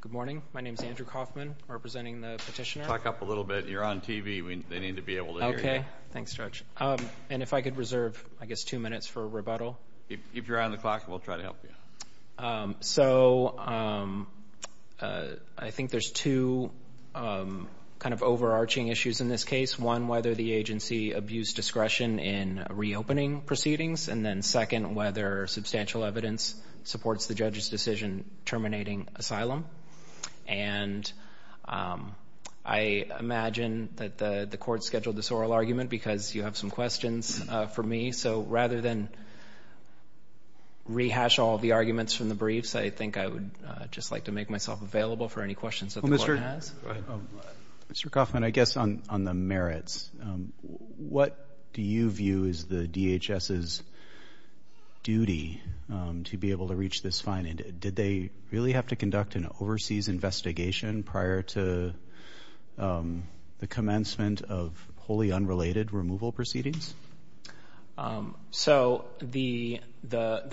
Good morning. My name is Andrew Kaufman, representing the petitioner. Clock up a little bit. You're on TV. They need to be able to hear you. Okay. Thanks, Judge. And if I could reserve, I guess, two minutes for a rebuttal. If you're on the clock, we'll try to help you. So, I think there's two kind of overarching issues in this case. One, whether the agency abused discretion in reopening proceedings, and then second, whether substantial evidence supports the judge's decision terminating asylum. And I imagine that the court scheduled this oral argument because you have some questions for me. So, rather than rehash all the arguments from the briefs, I think I would just like to make myself available for any questions that the court has. Mr. Kaufman, I guess on the merits, what do you view is the DHS's duty to be able to reach this fine? Did they really have to conduct an overseas investigation prior to the commencement of wholly unrelated removal proceedings? So, the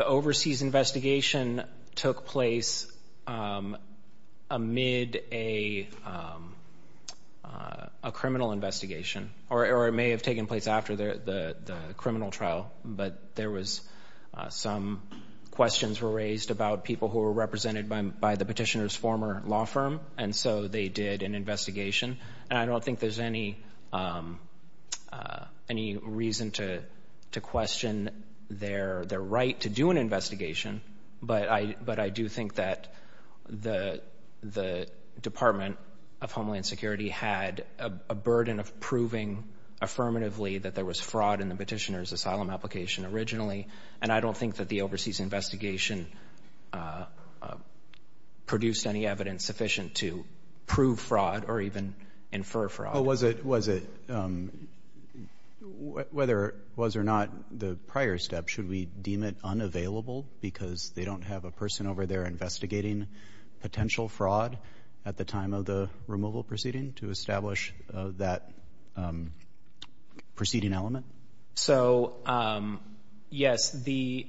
overseas investigation took place amid a criminal investigation, or it may have taken place after the criminal trial. But there was some questions were raised about people who were represented by the petitioner's former law firm, and so they did an investigation. And I have no reason to question their right to do an investigation, but I do think that the Department of Homeland Security had a burden of proving affirmatively that there was fraud in the petitioner's asylum application originally. And I don't think that the overseas investigation produced any evidence sufficient to prove fraud or even infer fraud. Oh, was it whether it was or not the prior step, should we deem it unavailable because they don't have a person over there investigating potential fraud at the time of the removal proceeding to establish that proceeding element? So, yes, the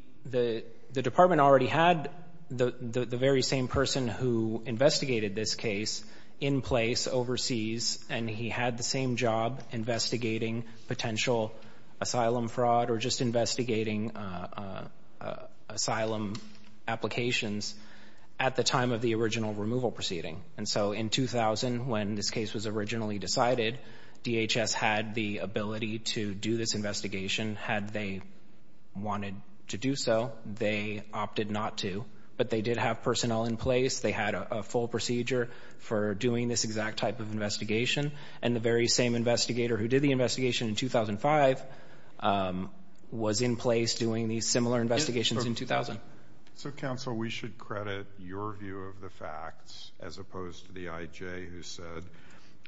Department already had the very same person who investigated this case in place overseas, and he had the same job investigating potential asylum fraud or just investigating asylum applications at the time of the original removal proceeding. And so, in 2000, when this case was originally decided, DHS had the ability to do this investigation. Had they wanted to do so, they opted not to. But they did have personnel in place. They had a full procedure for doing this exact type of investigation. And the very same investigator who did the investigation in 2005 was in place doing these similar investigations in 2000. So, counsel, we should credit your view of the facts as opposed to the I.J. who said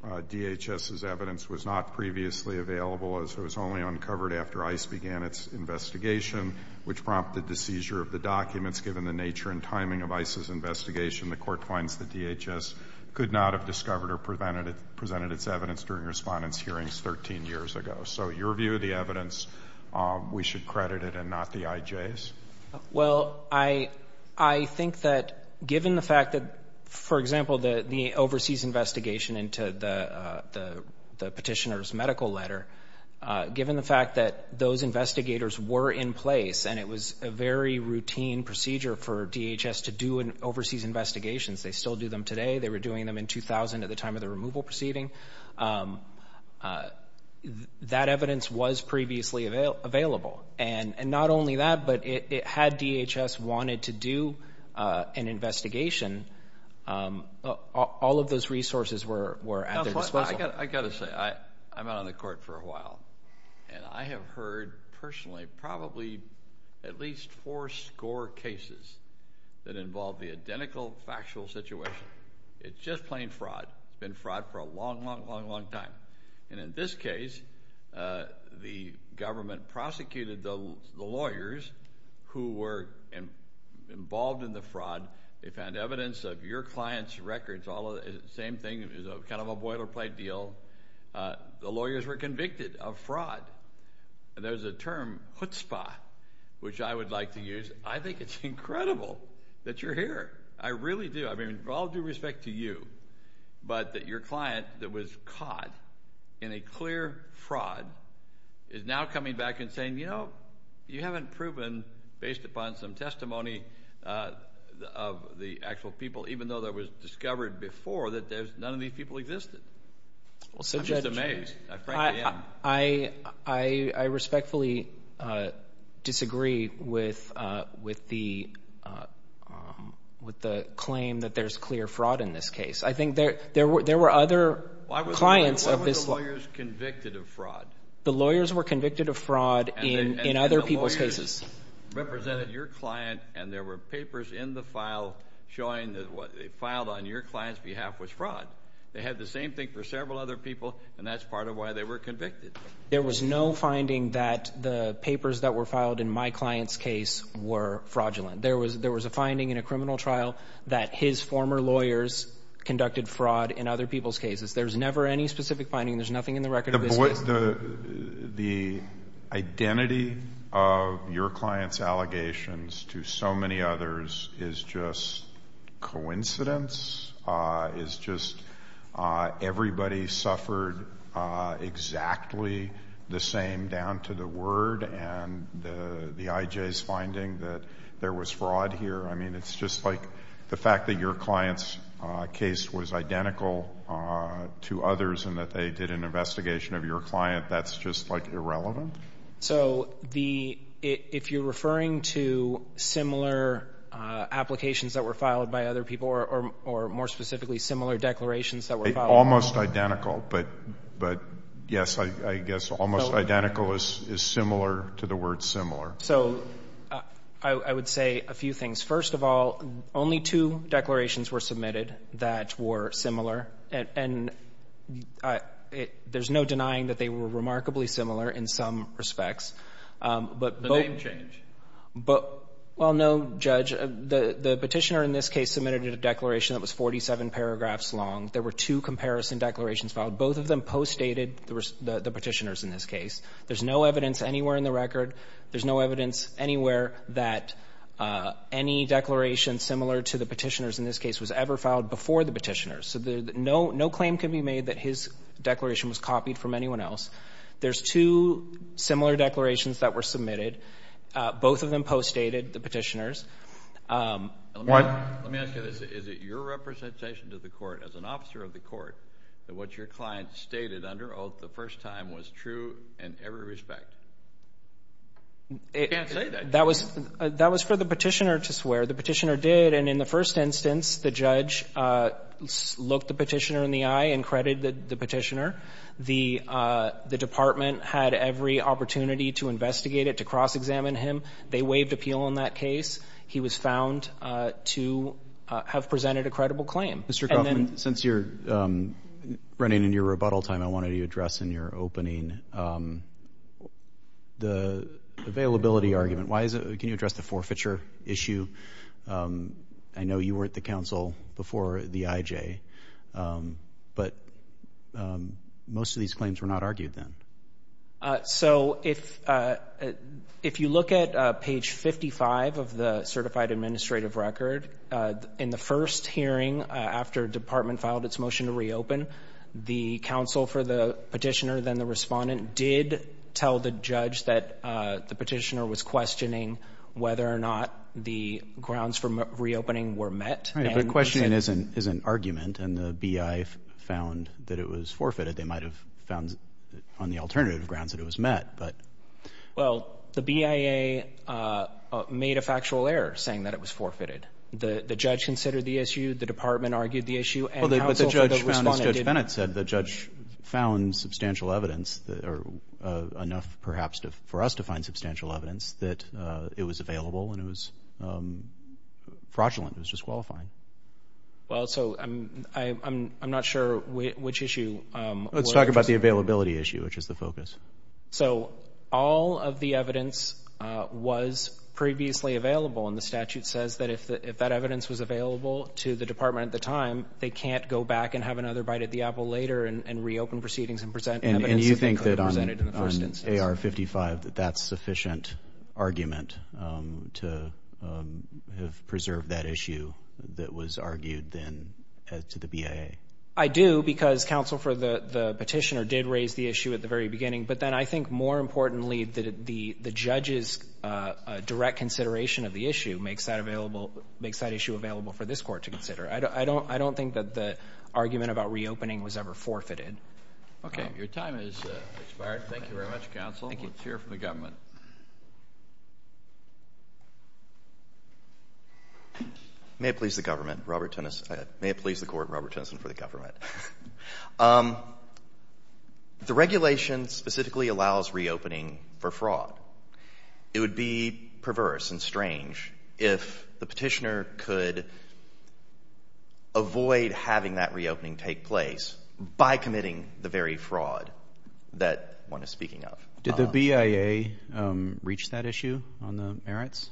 DHS's evidence was not previously available as it was only uncovered after ICE began its investigation, which prompted the seizure of the documents. Given the nature and timing of ICE's investigation, the court finds that DHS could not have discovered or presented its evidence during respondents' hearings 13 years ago. So, your view of the evidence, we should credit it and not the I.J.'s? Well, I think that given the fact that, for example, the overseas investigation into the petitioner's medical letter, given the fact that those investigators were in place and it was a very routine procedure for DHS to do overseas investigations, they still do them today, they were doing them in 2000 at the time of the removal proceeding, that evidence was previously available. And not only that, but had DHS wanted to do an investigation, all of those resources were at their disposal. I've got to say, I've been on the court for a while, and I have heard, personally, probably at least four score cases that involve the identical factual situation. It's just plain fraud. It's been fraud for a long, long, long, long time. And in this case, the government prosecuted the lawyers who were involved in the fraud. They found evidence of your client's records, all the same thing, kind of a boilerplate deal. The lawyers were convicted of fraud. And there's a term, chutzpah, which I would like to use. I think it's incredible that you're here. I really do. I mean, all due respect to you, but that your client that was caught in a clear fraud is now coming back and saying, you know, you haven't proven, based upon some testimony of the actual people, even though that was discovered before, that none of these people existed. I'm just amazed. I respectfully disagree with the claim that there's clear fraud in this case. I think there were other clients of this. Why were the lawyers convicted of fraud? The lawyers were convicted of fraud in other people's cases. And the lawyers represented your client, and there were papers in the file showing that what they filed on your client's behalf was fraud. They had the same thing for several other people, and that's part of why they were convicted. There was no finding that the papers that were filed in my client's case were fraudulent. There was a finding in a criminal trial that his former lawyers conducted fraud in other people's cases. There's never any specific finding. There's nothing in the record of this case. The identity of your client's allegations to so many others is just coincidence, is just everybody suffered exactly the same down to the word and the IJ's finding that there was fraud here. I mean, it's just like the fact that your client's case was identical to others and that they did an investigation of your client, that's just like irrelevant? So the, if you're referring to similar applications that were filed by other people or more specifically similar declarations that were filed. Almost identical, but yes, I guess almost identical is similar to the word similar. So I would say a few things. First of all, only two declarations were submitted that were similar, and there's no denying that they were remarkably similar in some respects. But both of them changed. Well, no, Judge. The Petitioner in this case submitted a declaration that was 47 paragraphs long. There were two comparison declarations filed. Both of them postdated the Petitioner's in this case. There's no evidence anywhere in the record, there's no evidence anywhere that any declaration similar to the Petitioner's in this case was ever filed before the Petitioner's. So no claim can be made that his declaration was copied from anyone else. There's two similar declarations that were submitted. Both of them postdated the Petitioner's. Let me ask you this. Is it your representation to the court as an officer of the court that what your client stated under oath the first time was true in every respect? You can't say that. That was for the Petitioner to swear. The Petitioner did, and in the first instance, the judge looked the Petitioner in the eye and credited the Petitioner. The Department had every opportunity to investigate it, to cross-examine him. They waived appeal on that case. He was found to have presented a credible claim. Mr. Goffman, since you're running into your rebuttal time, I wanted to address in your opening the availability argument. Why is it – can you address the forfeiture issue? I know you were at the counsel before the IJ, but most of these claims were not argued then. So if you look at page 55 of the Certified Administrative Record, in the first hearing after Department filed its motion to reopen, the counsel for the Petitioner, then the respondent, did tell the judge that the Petitioner was questioning whether or not the grounds for reopening were met. Right, but questioning is an argument, and the BIA found that it was forfeited. They might have found on the alternative grounds that it was met, but – Well, the BIA made a factual error saying that it was forfeited. The judge considered the issue, the Department argued the issue, and the counsel for the respondent didn't. But the judge found substantial evidence – enough, perhaps, for us to find substantial evidence that it was available and it was fraudulent, it was disqualifying. Well, so I'm not sure which issue – Let's talk about the availability issue, which is the focus. So all of the evidence was previously available, and the statute says that if that evidence was available to the Department at the time, they can't go back and have another bite at the apple later and reopen proceedings and present evidence that could have been presented in the first instance. And you think that on AR-55, that that's sufficient argument to have preserved that issue that was argued then to the BIA? I do, because counsel for the Petitioner did raise the issue at the very beginning. But then I think, more importantly, the judge's direct consideration of the issue makes that available – makes that issue available for this Court to consider. I don't think that the argument about reopening was ever forfeited. Your time has expired. Thank you very much, counsel. Let's hear from the government. May it please the government, Robert Tennyson – may it please the Court, Robert Tennyson, for the government. The regulation specifically allows reopening for fraud. It would be perverse and strange if the Petitioner could avoid having that reopening take place by committing the very fraud that one is speaking of. Did the BIA reach that issue on the merits?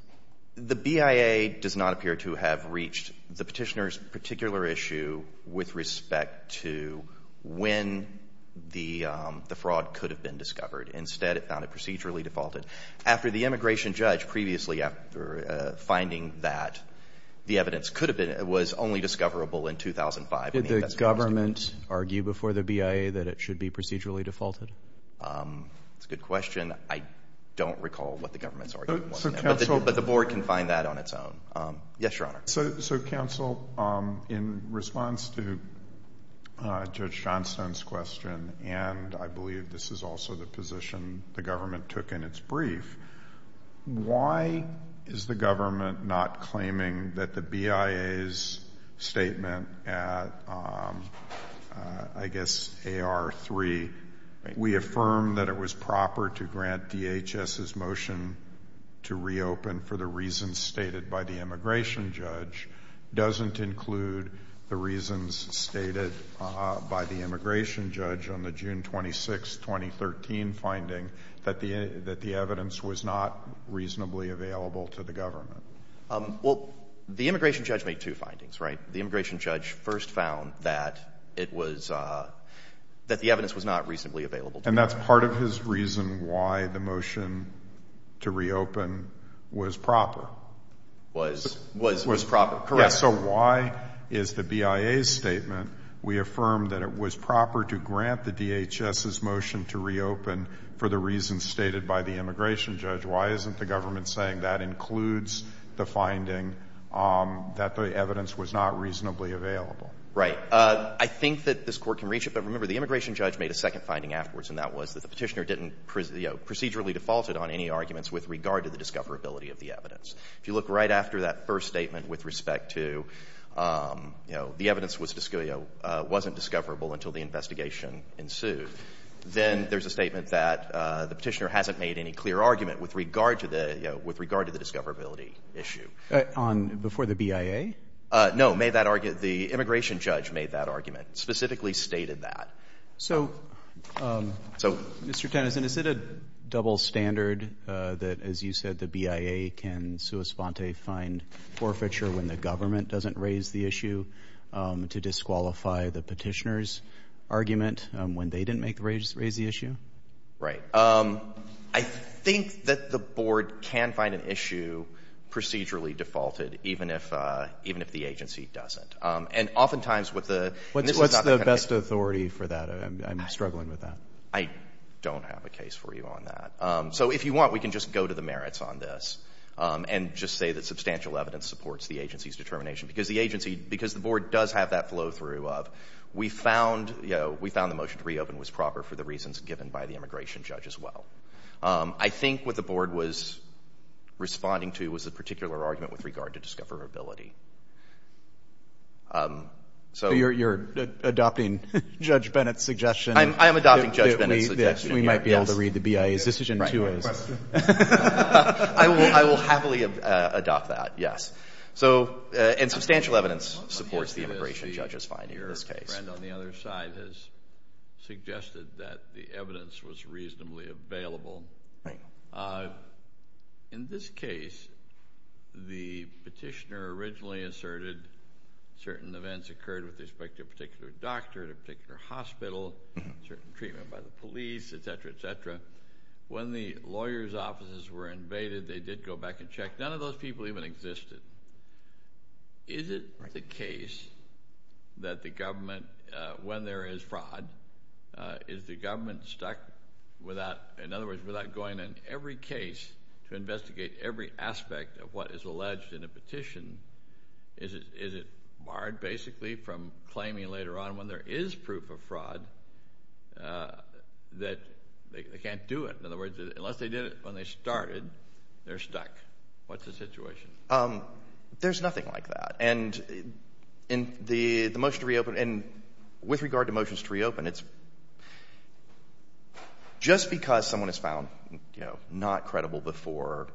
The BIA does not appear to have reached the Petitioner's particular issue with respect to when the fraud could have been discovered. Instead, it found it procedurally defaulted. After the immigration judge previously, after finding that the evidence could have been – was only discoverable in 2005, when the investigation was completed. Did the government argue before the BIA that it should be procedurally defaulted? That's a good question. I don't recall what the government's argument was. But the Board can find that on its own. Yes, Your Honor. So, counsel, in response to Judge Johnstone's question, and I believe this is also the position the government took in its brief, why is the government not claiming that the BIA's statement at, I guess, AR-3, we affirm that it was proper to grant DHS's motion to reopen for the reasons stated by the immigration judge, doesn't include the reasons stated by the immigration judge on the June 26, 2013, finding that the evidence was not reasonably available to the government? Well, the immigration judge made two findings, right? The immigration judge first found that it was – that the evidence was not reasonably available to the government. And that's part of his reason why the motion to reopen was proper. Was proper, correct. So why is the BIA's statement, we affirm that it was proper to grant the DHS's motion to reopen for the reasons stated by the immigration judge? Why isn't the government saying that includes the finding that the evidence was not reasonably available? Right. I think that this Court can reach it. But remember, the immigration judge made a second finding afterwards, and that was that the Petitioner didn't procedurally default it on any arguments with regard to the discoverability of the evidence. If you look right after that first statement with respect to, you know, the evidence was – wasn't discoverable until the investigation ensued, then there's a statement that the Petitioner hasn't made any clear argument with regard to the – you know, with regard to the discoverability issue. On – before the BIA? No, made that – the immigration judge made that argument, specifically stated that. So, Mr. Tennyson, is it a double standard that, as you said, the BIA can sui sponte find forfeiture when the government doesn't raise the issue to disqualify the Petitioner's argument when they didn't make – raise the issue? Right. I think that the Board can find an issue procedurally defaulted, even if – even if the agency doesn't. And oftentimes, with the – What's the best authority for that? I'm struggling with that. I don't have a case for you on that. So, if you want, we can just go to the merits on this and just say that substantial evidence supports the agency's determination, because the agency – because the Board does have that flow-through of, we found – you know, we found the motion to reopen was proper for the reasons given by the immigration judge as well. I think what the Board was responding to was a particular argument with regard to discoverability. So, you're – you're adopting Judge Bennett's suggestion that we might be able to read the I will – I will happily adopt that, yes. So – and substantial evidence supports the immigration judge's finding in this case. Your friend on the other side has suggested that the evidence was reasonably available. In this case, the Petitioner originally asserted certain events occurred with respect to a When the lawyers' offices were invaded, they did go back and check. None of those people even existed. Is it the case that the government, when there is fraud, is the government stuck without – in other words, without going in every case to investigate every aspect of what is alleged in a petition? Is it barred, basically, from claiming later on when there is proof of fraud that they can't do it? In other words, unless they did it when they started, they're stuck. What's the situation? There's nothing like that. And in the – the motion to reopen – and with regard to motions to reopen, it's – just because someone is found, you know, not credible before,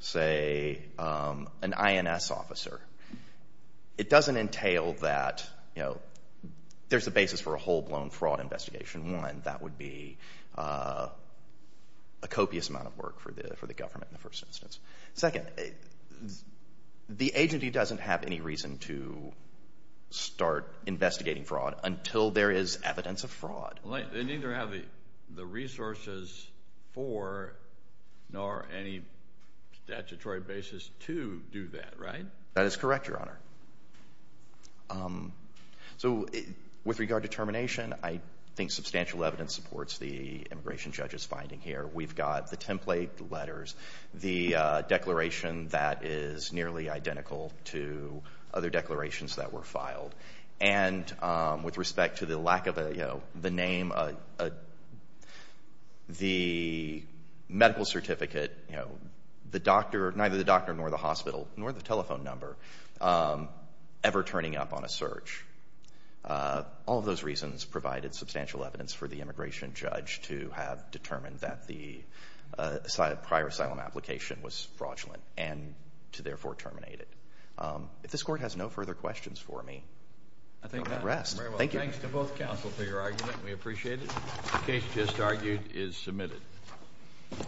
say, an INS officer, it doesn't entail that, you know, there's a basis for a whole-blown fraud investigation. One, that would be a copious amount of work for the government in the first instance. Second, the agency doesn't have any reason to start investigating fraud until there is evidence of fraud. Well, they neither have the resources for nor any statutory basis to do that, right? That is correct, Your Honor. So, with regard to termination, I think substantial evidence supports the immigration judge's finding here. We've got the template, the letters, the declaration that is nearly identical to other declarations that were filed. And with respect to the lack of a, you know, the name, the medical certificate, you know, the doctor – neither the doctor nor the hospital nor the telephone number ever turning up on a search. All of those reasons provided substantial evidence for the immigration judge to have determined that the prior asylum application was fraudulent and to therefore terminate it. If this Court has no further questions for me, I'll rest. I think that's very well said. Thank you. Thanks to both counsel for your argument. We appreciate it. The case just argued is submitted.